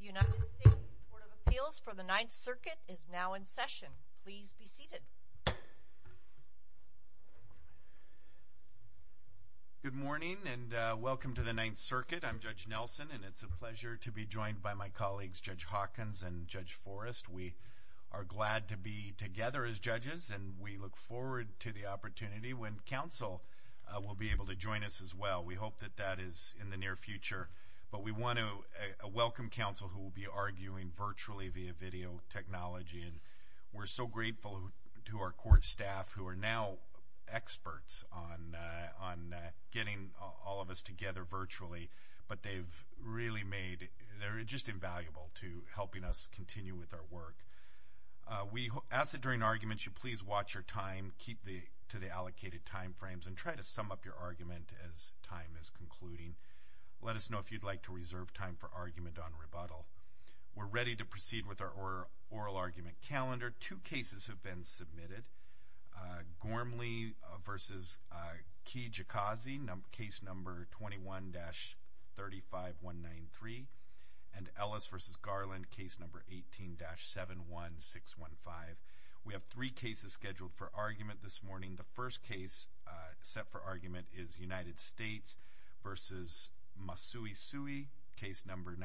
United States Court of Appeals for the Ninth Circuit is now in session. Please be seated. Good morning and welcome to the Ninth Circuit. I'm Judge Nelson and it's a pleasure to be joined by my colleagues Judge Hawkins and Judge Forrest. We are glad to be together as judges and we look forward to the opportunity when counsel will be able to join us as well. We hope that that is in the near future but we want to welcome counsel who will be arguing virtually via video technology and we're so grateful to our court staff who are now experts on getting all of us together virtually but they've really made, they're just invaluable to helping us continue with our work. We ask that during arguments you please watch your time, keep to the allocated time frames and try to sum up your argument as time is concluding. Let us know if you'd like to reserve time for argument on rebuttal. We're ready to proceed with our oral argument calendar. Two cases have been submitted, Gormley v. Kijikazi case number 21-35193 and Ellis v. Garland case number 18-71615. We have three cases scheduled for argument this morning. The first case set for argument is United States v. Masuisui case number 19-10349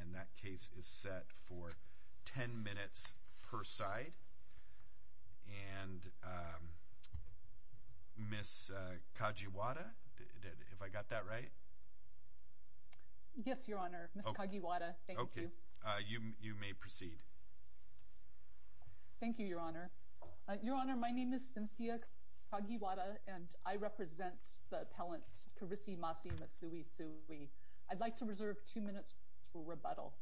and that case is set for 10 minutes per side. And Ms. Kajiwada, if I got that right? Yes, Your Honor. Ms. Kajiwada, thank you. Okay, you may proceed. Thank you, Your Honor. Your Honor, my name is Cynthia Kajiwada and I represent the appellant Karisi Masi Masuisui. I'd like to reserve two minutes for rebuttal.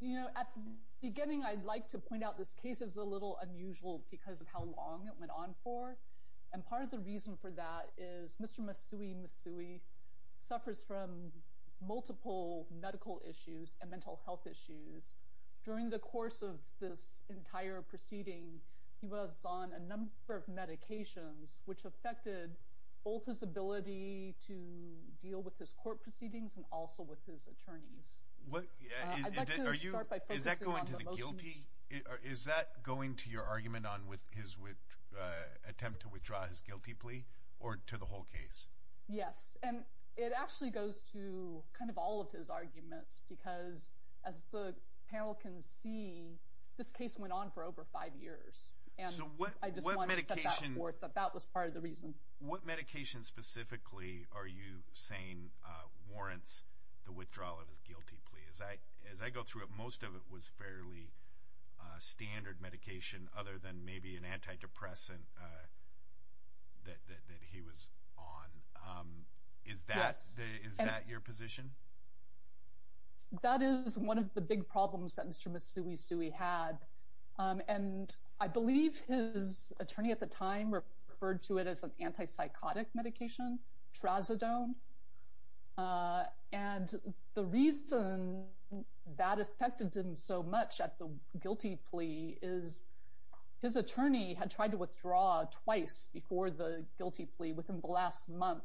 You know, at the beginning I'd like to point out this case is a little unusual because of how long it went on for. And part of the reason for that is Mr. Masuisui suffers from multiple medical issues and mental health issues. During the course of this entire proceeding, he was on a number of medications which affected both his ability to deal with his court proceedings and also with his attorneys. Is that going to your argument on his attempt to withdraw his guilty plea or to the whole case? Yes, and it actually goes to kind of all of his arguments because as the panel can see, this case went on for over five years. So what medication specifically are you saying warrants the withdrawal of his guilty plea? As I go through it, most of it was fairly standard medication other than maybe an antidepressant that he was on. Is that your position? That is one of the big problems that Mr. Masuisui had. And I believe his attorney at the time referred to it as an antipsychotic medication, trazodone. And the reason that affected him so much at the guilty plea is his attorney had tried to withdraw twice before the guilty plea within the last month.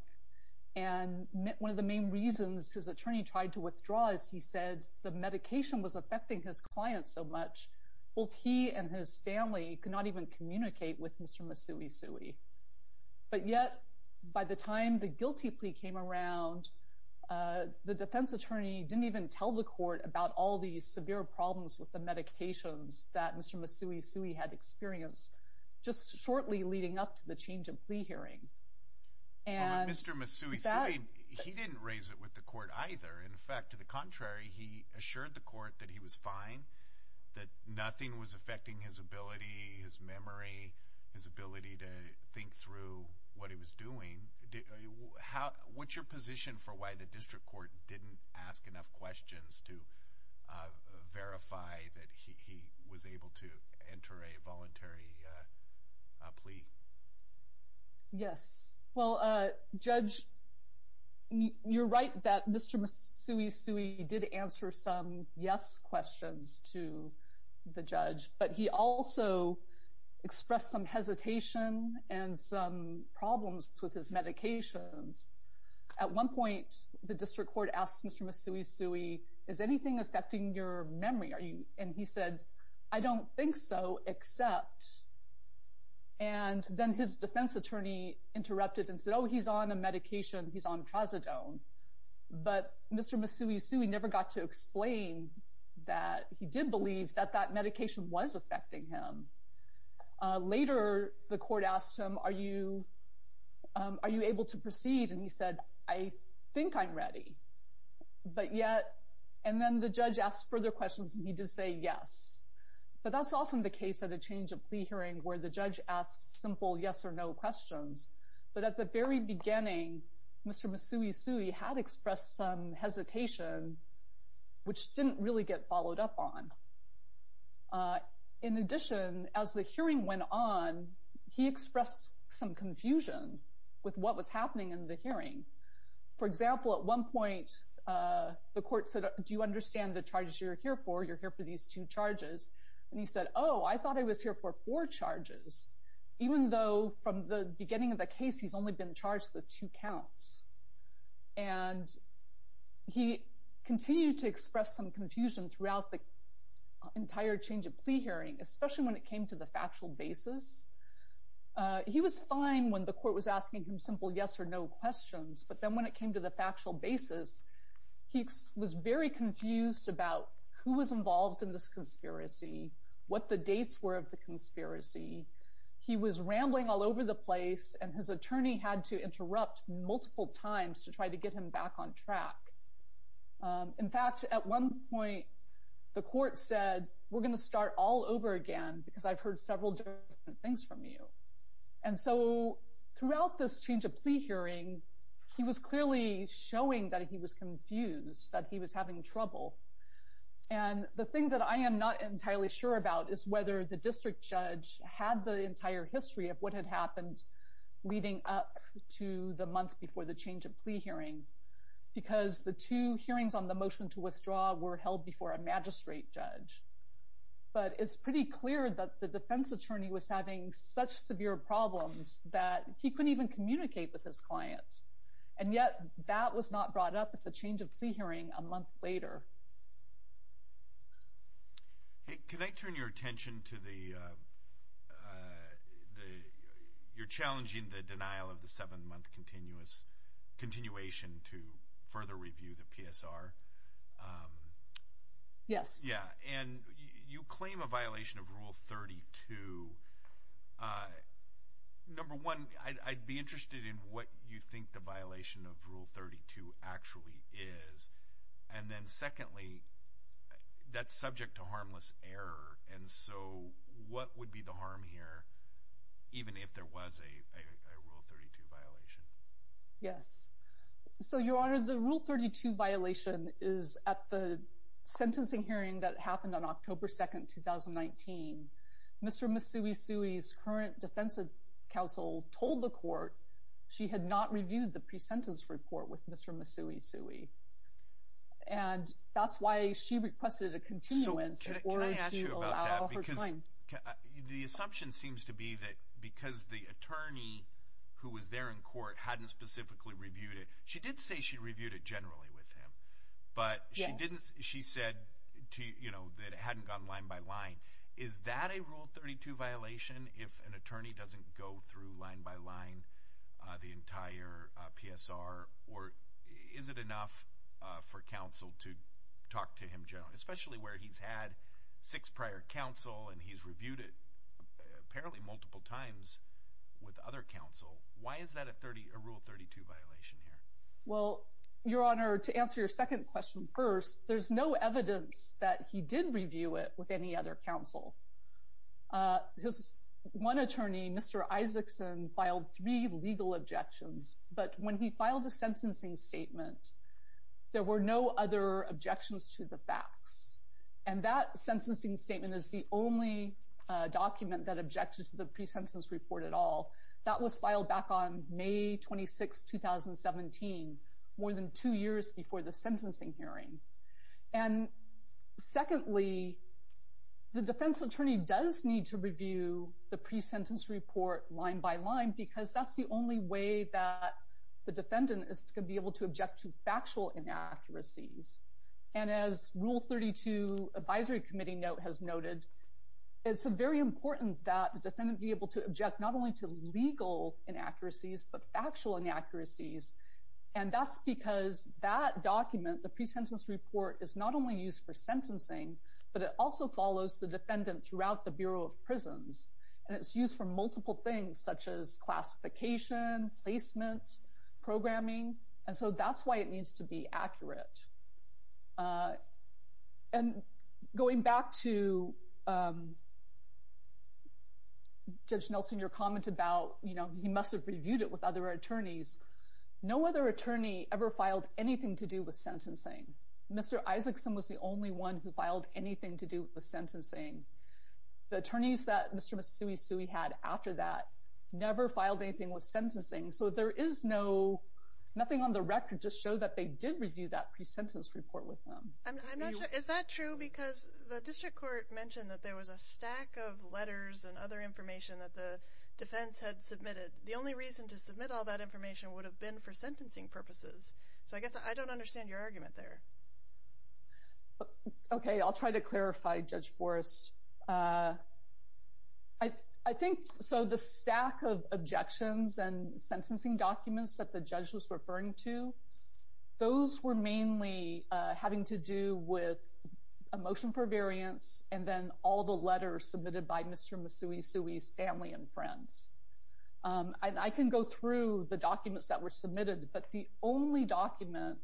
And one of the main reasons his attorney tried to withdraw is he said the medication was affecting his clients so much, both he and his family could not even communicate with Mr. Masuisui. But yet by the time the guilty plea came around, the defense attorney didn't even tell the court about all these severe problems with the medications that Mr. Masuisui had experienced just shortly leading up to the change of plea hearing. But Mr. Masuisui, he didn't raise it with the court either. In fact, to the contrary, he assured the court that he was fine, that nothing was affecting his ability, his memory, his ability to think through what he was doing. What's your position for why the district court didn't ask enough questions to verify that he was able to enter a voluntary plea? Yes. Well, Judge, you're right that Mr. Masuisui did answer some yes questions to the judge, but he also expressed some hesitation and some problems with his medications. At one point, the district court asked Mr. Masuisui, is anything affecting your memory? And he said, I don't think so, except and then his defense attorney interrupted and said, oh, he's on a medication, he's on trazodone. But Mr. Masuisui never got to explain that he did believe that that medication was affecting him. Later, the court asked him, are you able to proceed? And he said, I think I'm ready. But yet, and then the judge asked further questions and he did say yes. But that's often the case that change of plea hearing where the judge asks simple yes or no questions. But at the very beginning, Mr. Masuisui had expressed some hesitation, which didn't really get followed up on. In addition, as the hearing went on, he expressed some confusion with what was happening in the hearing. For example, at one point, the court said, do you understand the charges you're here for? You're here for these two charges. And he said, oh, I thought I was here for four charges, even though from the beginning of the case, he's only been charged with two counts. And he continued to express some confusion throughout the entire change of plea hearing, especially when it came to the factual basis. He was fine when the court was asking him simple yes or no questions. But then when it came to the factual basis, he was very confused about who involved in this conspiracy, what the dates were of the conspiracy. He was rambling all over the place and his attorney had to interrupt multiple times to try to get him back on track. In fact, at one point, the court said, we're going to start all over again because I've heard several different things from you. And so throughout this change of plea hearing, he was clearly showing that he was in trouble. And the thing that I am not entirely sure about is whether the district judge had the entire history of what had happened leading up to the month before the change of plea hearing, because the two hearings on the motion to withdraw were held before a magistrate judge. But it's pretty clear that the defense attorney was having such severe problems that he couldn't even communicate with his clients. And yet that was not brought up at the change of plea hearing a month later. Hey, can I turn your attention to the, you're challenging the denial of the seven-month continuous continuation to further review the PSR? Yes. Yeah. And you claim a violation of Rule 32. Number one, I'd be interested in what you think the violation of Rule 32 actually is. And then secondly, that's subject to harmless error. And so what would be the harm here, even if there was a Rule 32 violation? Yes. So, Your Honor, the Rule 32 violation is at the sentencing hearing that happened on October 2, 2019. Mr. Misui-Sui's current defense counsel told the court she had not reviewed the pre-sentence report with Mr. Misui-Sui. And that's why she requested a continuance. So, can I ask you about that? Because the assumption seems to be that because the attorney who was there in court hadn't specifically reviewed it, she did say she reviewed it generally with him, but she didn't, she said to, you know, that it hadn't gone line by line. Is that a Rule 32 violation if an attorney doesn't go through line by line the entire PSR? Or is it enough for counsel to talk to him generally, especially where he's had six prior counsel and he's reviewed it apparently multiple times with other counsel? Why is that a Rule 32 violation here? Well, Your Honor, to answer your second question first, there's no evidence that he did review it with any other counsel. His one attorney, Mr. Isaacson, filed three legal objections, but when he filed a sentencing statement, there were no other objections to the facts. And that sentencing statement is the only document that objected to the pre-sentence report at all. That was filed back on May 26, 2017, more than two years before the sentencing hearing. And secondly, the defense attorney does need to review the pre-sentence report line by line because that's the only way that the defendant is going to be able to object to factual inaccuracies. And as Rule 32 Advisory Committee note has noted, it's very important that the defendant be able to object not only to legal inaccuracies, but factual inaccuracies. And that's because that document, the pre-sentence report, is not only used for sentencing, but it also follows the defendant throughout the Bureau of Prisons. And it's used for multiple things such as classification, placement, programming, and so that's why it needs to be accurate. And going back to Judge Nelson, your comment about, you know, he must have reviewed it with other attorneys. No other attorney ever filed anything to do with sentencing. Mr. Isaacson was the only one who filed anything to do with the sentencing. The attorneys that Mr. Masui Sui had after that never filed anything with sentencing. So there is no, nothing on the record just showed that they did review that pre-sentence report with them. I'm not sure, is that true? Because the District has a stack of letters and other information that the defense had submitted. The only reason to submit all that information would have been for sentencing purposes. So I guess I don't understand your argument there. Okay, I'll try to clarify, Judge Forrest. I think, so the stack of objections and sentencing documents that the judge was referring to, those were mainly having to do with a motion for variance and then all the letters submitted by Mr. Masui Sui's family and friends. I can go through the documents that were submitted, but the only document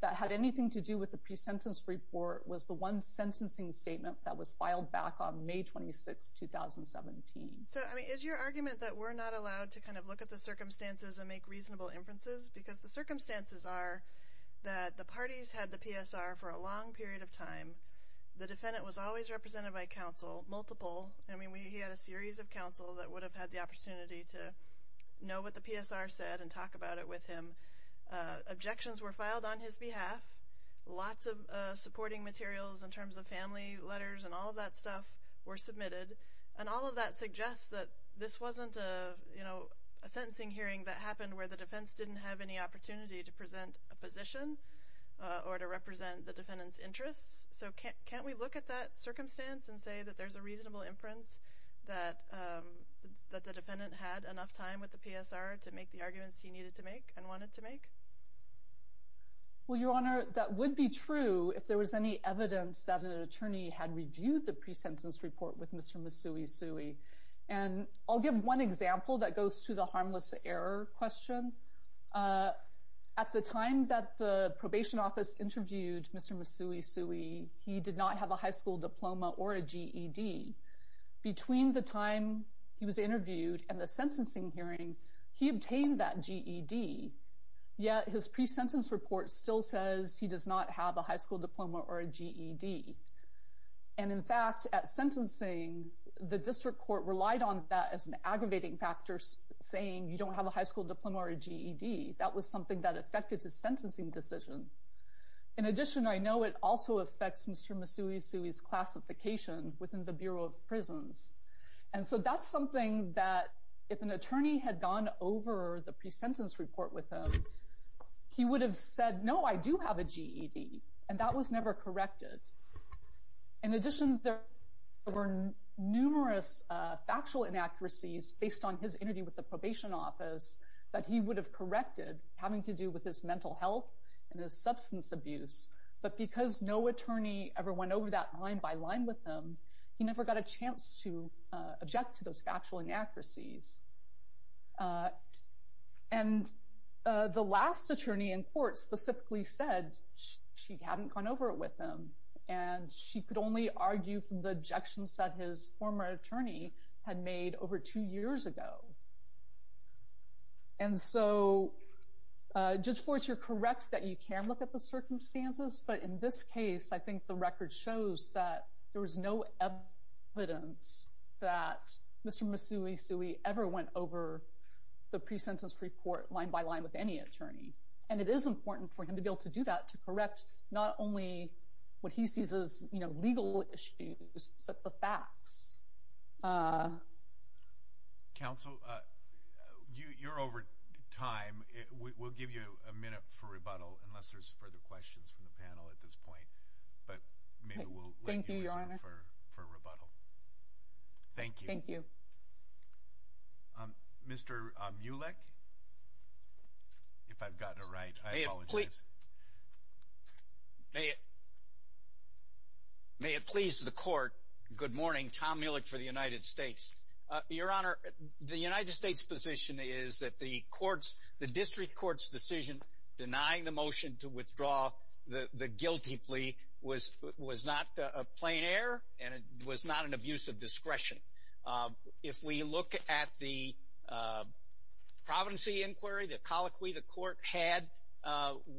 that had anything to do with the pre-sentence report was the one sentencing statement that was filed back on May 26, 2017. So, I mean, is your argument that we're not allowed to kind of look at the circumstances and make reasonable inferences? Because the circumstances are that the parties had the PSR for a long period of time. The defendant was always represented by counsel, multiple. I mean, he had a series of counsel that would have had the opportunity to know what the PSR said and talk about it with him. Objections were filed on his behalf. Lots of supporting materials in terms of family letters and all of that stuff were submitted. And all of that suggests that this wasn't a, you know, a sentencing hearing that happened where the defense didn't have any opportunity to present a position or to represent the defendant's interests. So, can't we look at that circumstance and say that there's a reasonable inference that the defendant had enough time with the PSR to make the arguments he needed to make and wanted to make? Well, Your Honor, that would be true if there was any evidence that an attorney had reviewed the pre-sentence report with Mr. Masui Sui. And I'll give one example that goes to the harmless error question. At the time that the probation office interviewed Mr. Masui Sui, he did not have a high school diploma or a GED. Between the time he was interviewed and the sentencing hearing, he obtained that GED, yet his pre-sentence report still says he does not have a high school diploma or a GED. And in fact, at sentencing, the district court relied on that as an aggravating factor, saying you don't have a high school diploma or a GED. That was something that affected his sentencing decision. In addition, I know it also affects Mr. Masui Sui's classification within the Bureau of Prisons. And so that's something that if an attorney had gone over the pre-sentence report with him, he would have said, no, I do have a GED. And that was never corrected. In addition, there were numerous factual inaccuracies based on his interview with the probation office that he would have corrected having to do with his mental health and his substance abuse. But because no attorney ever went over that line by line with him, he never got a chance to object to those factual inaccuracies. And the last attorney in court specifically said she hadn't gone over it with him, and she could only argue from the objections that his former attorney had made over two years ago. And so, Judge Forrest, you're correct that you can look at the circumstances, but in this case, I think the record shows that there was no evidence that Mr. Masui Sui ever went over the pre-sentence report line by line with any attorney. And it is important for him to be able to do that, to correct not only what he sees as legal issues, but the facts. Counsel, you're over time. We'll give you a minute for rebuttal unless there's further questions from the panel at this point. But maybe we'll let you resume for rebuttal. Thank you. Thank you. Mr. Mulek, if I've gotten it right. I apologize. May it please the court. Good morning. Tom Mulek for the United States. Your Honor, the United States' position is that the district court's decision denying the motion to withdraw the guilty plea was not a plain error, and it was not an abuse of discretion. If we look at the providency inquiry, the colloquy the court had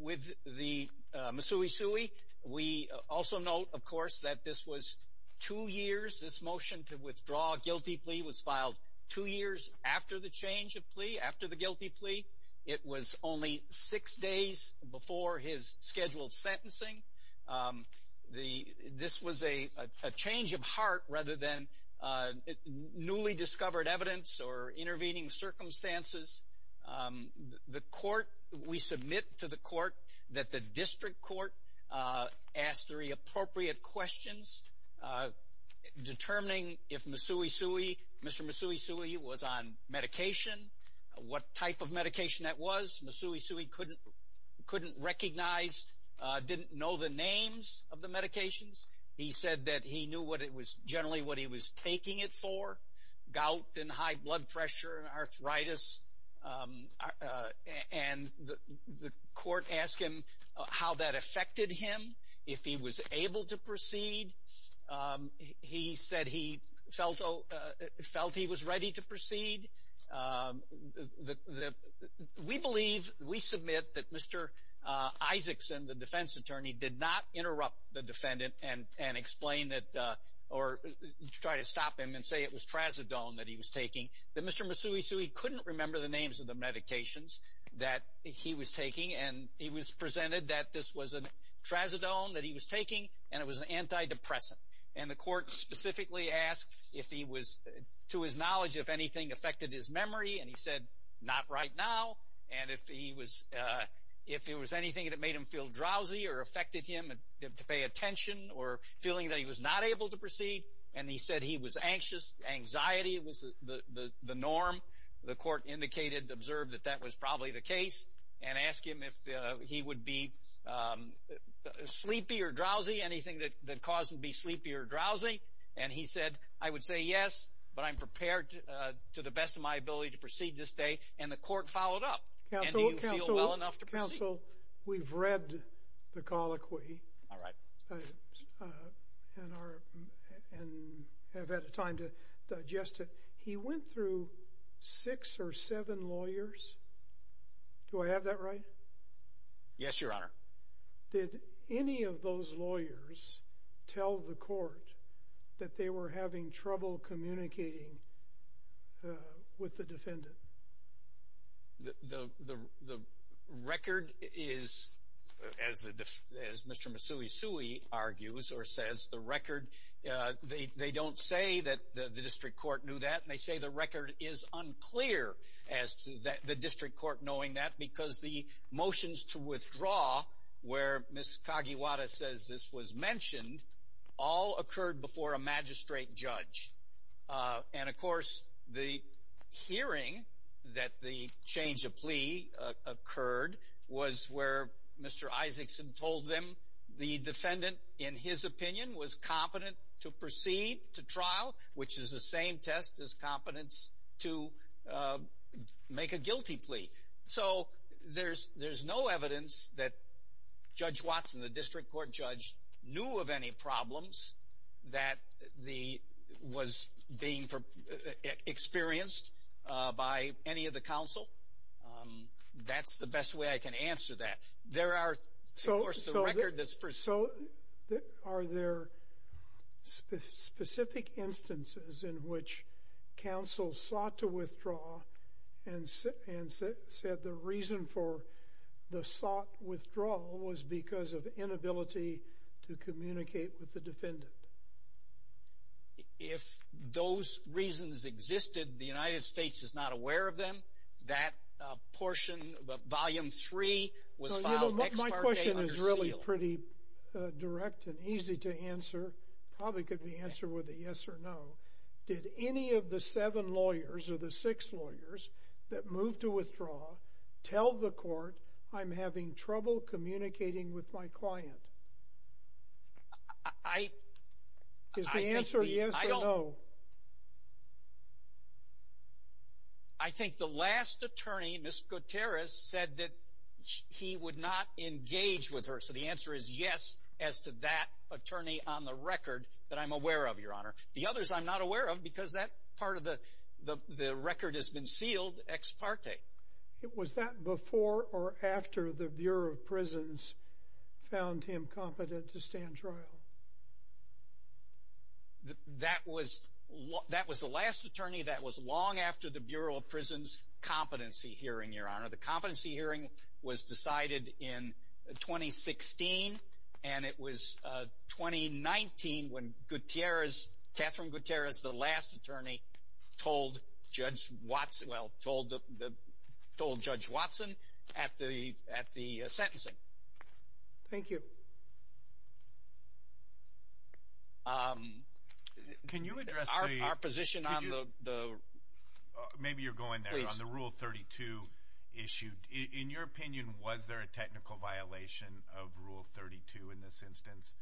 with the Masui Sui, we also note, of course, that this was two years. This motion to withdraw guilty plea was filed two years after the change of plea, after the guilty plea. It was only six days before his newly discovered evidence or intervening circumstances. The court, we submit to the court that the district court asked three appropriate questions determining if Masui Sui, Mr. Masui Sui was on medication, what type of medication that was. Masui Sui couldn't recognize, didn't know the names of the medications. He said that he knew generally what he was taking it for, gout and high blood pressure and arthritis. And the court asked him how that affected him, if he was able to proceed. He said he felt he was ready to proceed. We believe, we submit that Mr. Isaacson, the defense attorney, did not interrupt the defendant and explain that or try to stop him and say it was Trazodone that he was taking. Mr. Masui Sui couldn't remember the names of the medications that he was taking and he was presented that this was a Trazodone that he was taking and it was an antidepressant. And the court specifically asked if he was, to his knowledge, if anything affected his memory and he said not right now. And if he was, if there was anything that made him feel drowsy or affected him, to pay attention or feeling that he was not able to proceed. And he said he was anxious. Anxiety was the norm. The court indicated, observed that that was probably the case and asked him if he would be sleepy or drowsy, anything that caused him to be sleepy or drowsy. And he said, I would say yes, but I'm prepared to the best of my ability to proceed this day. And the court followed up. Counsel, Counsel, Counsel, we've read the colloquy. All right. And our and have had a time to digest it. He went through six or seven lawyers. Do I have that right? Yes, Your Honor. Did any of those lawyers tell the court that they were having trouble communicating with the defendant? The record is, as Mr. Masui-Sui argues or says, the record, they don't say that the district court knew that. And they say the record is unclear as to the district court knowing that because the motions to withdraw, where Ms. Kagiwara says this was the hearing that the change of plea occurred was where Mr. Isaacson told them the defendant, in his opinion, was competent to proceed to trial, which is the same test as competence to make a guilty plea. So there's no evidence that Judge Watson, the district court judge, knew of any problems that was being experienced by any of the counsel. That's the best way I can answer that. There are, of course, the record that's preserved. So are there specific instances in which counsel sought to withdraw and said the reason for the sought withdrawal was because of to communicate with the defendant? If those reasons existed, the United States is not aware of them. That portion, Volume 3, was filed next part of the day under seal. My question is really pretty direct and easy to answer. Probably could be answered with a yes or no. Did any of the seven lawyers or the six lawyers that moved to withdraw tell the court, I'm having trouble communicating with my client? Is the answer yes or no? I think the last attorney, Ms. Gutierrez, said that he would not engage with her. So the answer is yes as to that attorney on the record that I'm aware of, Your Honor. The others I'm not aware of because that part of the record has been sealed ex parte. Was that before or after the Bureau of Prisons found him competent to stand trial? That was the last attorney. That was long after the Bureau of Prisons competency hearing, Your Honor. The competency hearing was decided in 2016, and it was 2019 when Gutierrez, Catherine Gutierrez, the last attorney, told Judge Watson at the sentencing. Thank you. Can you address our position on the... Maybe you're going there. On the Rule 32 issue, in your opinion, was there a technical violation of Rule 32 in this instance?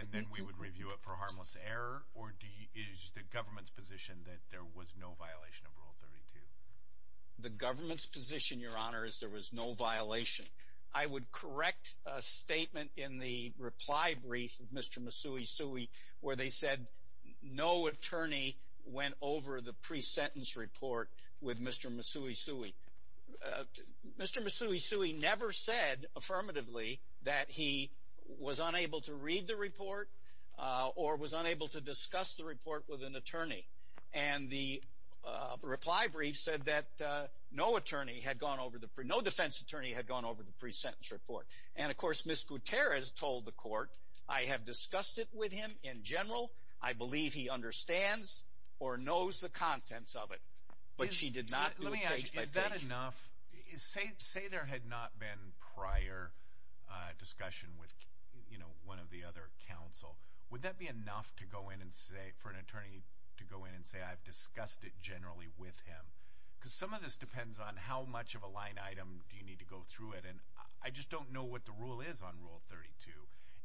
And then we would review it for harmless error, or is the government's position that there was no violation of Rule 32? The government's position, Your Honor, is there was no violation. I would correct a statement in the reply brief of Mr. Masui Sui where they said no attorney went over the pre-sentence report with Mr. Masui Sui. Mr. Masui Sui never said affirmatively that he was unable to read the report or was unable to discuss the report with an attorney. And the reply brief said that no defense attorney had gone over the pre-sentence report. And, of course, Ms. Gutierrez told the court, I have discussed it with him in general. I believe he understands or knows the contents of it. But she did not do it page by page. Say there had not been prior discussion with one of the other counsel. Would that be enough for an attorney to go in and say, I've discussed it generally with him? Because some of this depends on how much of a line item do you need to go through it. And I just don't know what the rule is on Rule 32.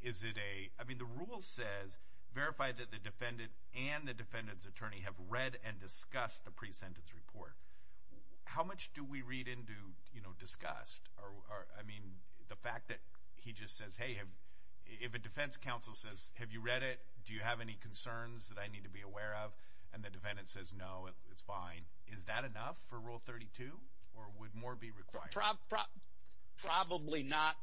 Is it a... I mean, the rule says verify that the defendant and the defendant's report. How much do we read into, you know, discussed? I mean, the fact that he just says, hey, if a defense counsel says, have you read it? Do you have any concerns that I need to be aware of? And the defendant says, no, it's fine. Is that enough for Rule 32? Or would more be required? Probably not.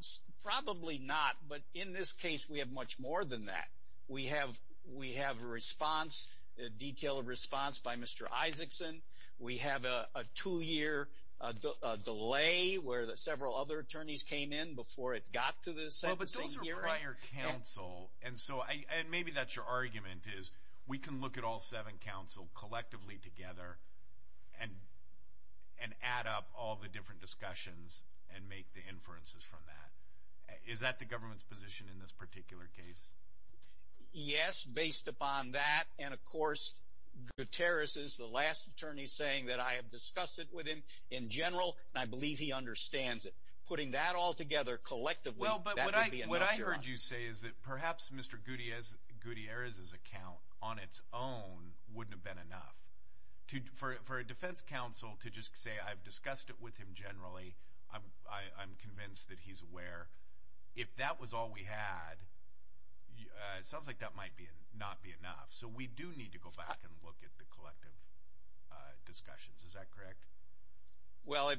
Probably not. But in this case, we have much more than that. We have a response, detailed response by Mr. Isaacson. We have a two-year delay where several other attorneys came in before it got to the sentencing hearing. But those are prior counsel. And so, and maybe that's your argument, is we can look at all seven counsel collectively together and add up all the different discussions and make the inferences from that. Is that the government's position in this particular case? Yes, based upon that. And of course, Gutierrez is the last attorney saying that I have discussed it with him in general, and I believe he understands it. Putting that all together collectively, that would be a no-no. Well, but what I heard you say is that perhaps Mr. Gutierrez's account on its own wouldn't have been enough. For a defense counsel to just say, I've discussed it with him generally, I'm convinced that he's aware. If that was all we had, it sounds like that might not be enough. So we do need to go back and look at the collective discussions. Is that correct? Well,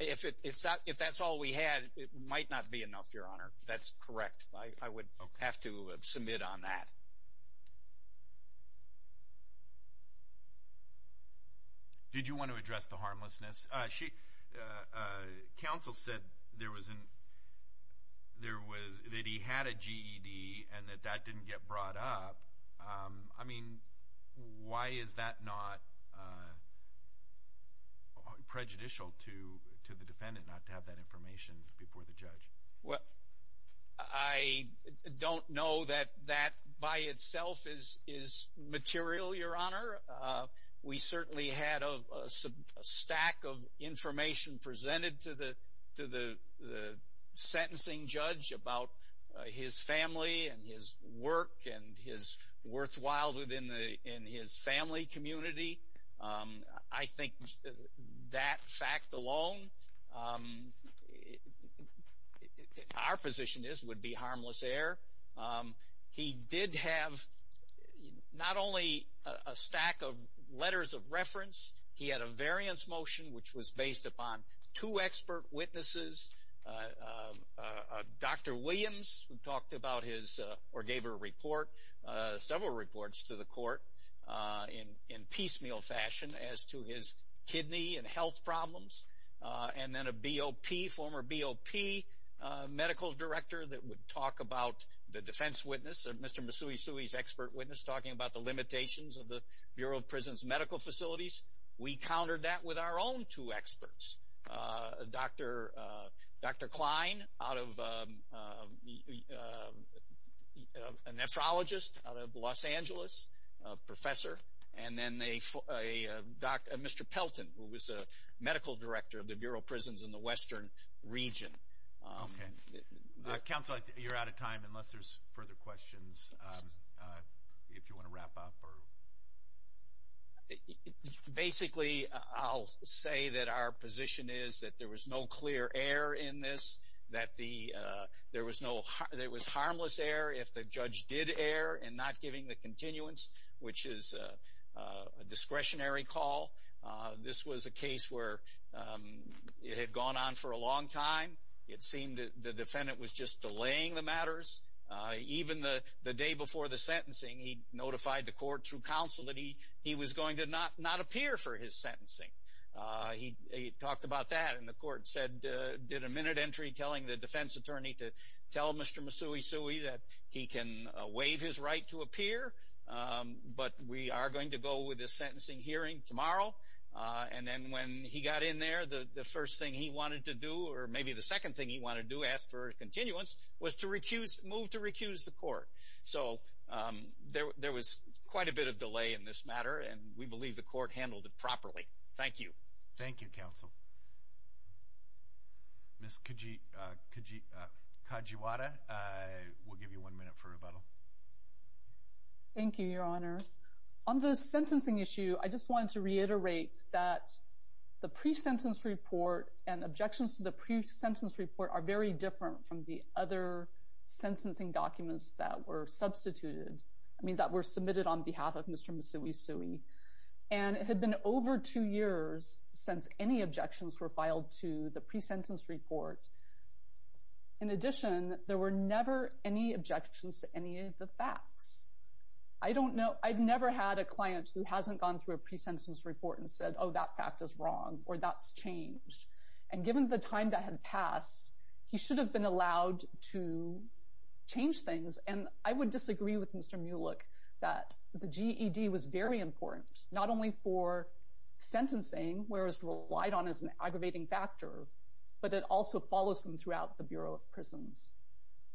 if that's all we had, it might not be enough, Your Honor. That's correct. I would have to submit on that. Did you want to address the harmlessness? Council said that he had a GED and that that didn't get brought up. I mean, why is that not prejudicial to the defendant, not to have that information before the judge? Well, I don't know that that by itself is material, Your Honor. We certainly had a stack of information presented to the sentencing judge about his family and his work and his worthwhile within his family community. I think that fact alone, our position is it would be harmless error. He did have not only a stack of letters of reference, he had a variance motion, which was based upon two expert witnesses, a Dr. Williams, who talked about his or gave her a report, several reports to the court in piecemeal fashion as to his kidney and health problems, and then a BOP, former BOP medical director that would talk about the defense witness, Mr. Masui Sui's expert witness, talking about the limitations of the Bureau of Prison's medical facilities. We countered that with our own two experts, Dr. Klein, a nephrologist out of Los Angeles, a professor, and then Mr. Pelton, who was a medical director of the Bureau of Prisons in the western region. Counsel, you're out of time unless there's further questions, if you want to wrap up. Sure. Basically, I'll say that our position is that there was no clear error in this, that there was harmless error if the judge did err in not giving the continuance, which is a discretionary call. This was a case where it had gone on for a long time. It seemed that the defendant was just delaying the matters. Even the day before the sentencing, he notified the court through counsel that he was going to not appear for his sentencing. He talked about that, and the court did a minute entry telling the defense attorney to tell Mr. Masui Sui that he can waive his right to appear, but we are going to go with this sentencing hearing tomorrow. Then when he got in there, the first thing he wanted to do, or maybe the second thing he wanted to do, ask for continuance, was to move to recuse the court. So there was quite a bit of delay in this matter, and we believe the court handled it properly. Thank you. Thank you, counsel. Ms. Kajiwara, we'll give you one minute for rebuttal. Thank you, Your Honor. On the sentencing issue, I just wanted to reiterate that the pre-sentence report and objections to the pre-sentence report are very different from the other documents that were submitted on behalf of Mr. Masui Sui. It had been over two years since any objections were filed to the pre-sentence report. In addition, there were never any objections to any of the facts. I've never had a client who hasn't gone through a pre-sentence report and said, oh, that fact is wrong or that's changed. Given the time that had passed, he should have been allowed to change things. And I would disagree with Mr. Mulick that the GED was very important, not only for sentencing, where it's relied on as an aggravating factor, but it also follows him throughout the Bureau of Prisons.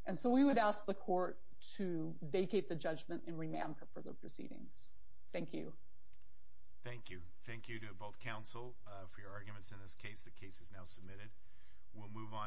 And so we would ask the court to vacate the judgment and remand for further proceedings. Thank you. Thank you. Thank you to both counsel for your arguments in this case. The case is now submitted. We'll move on.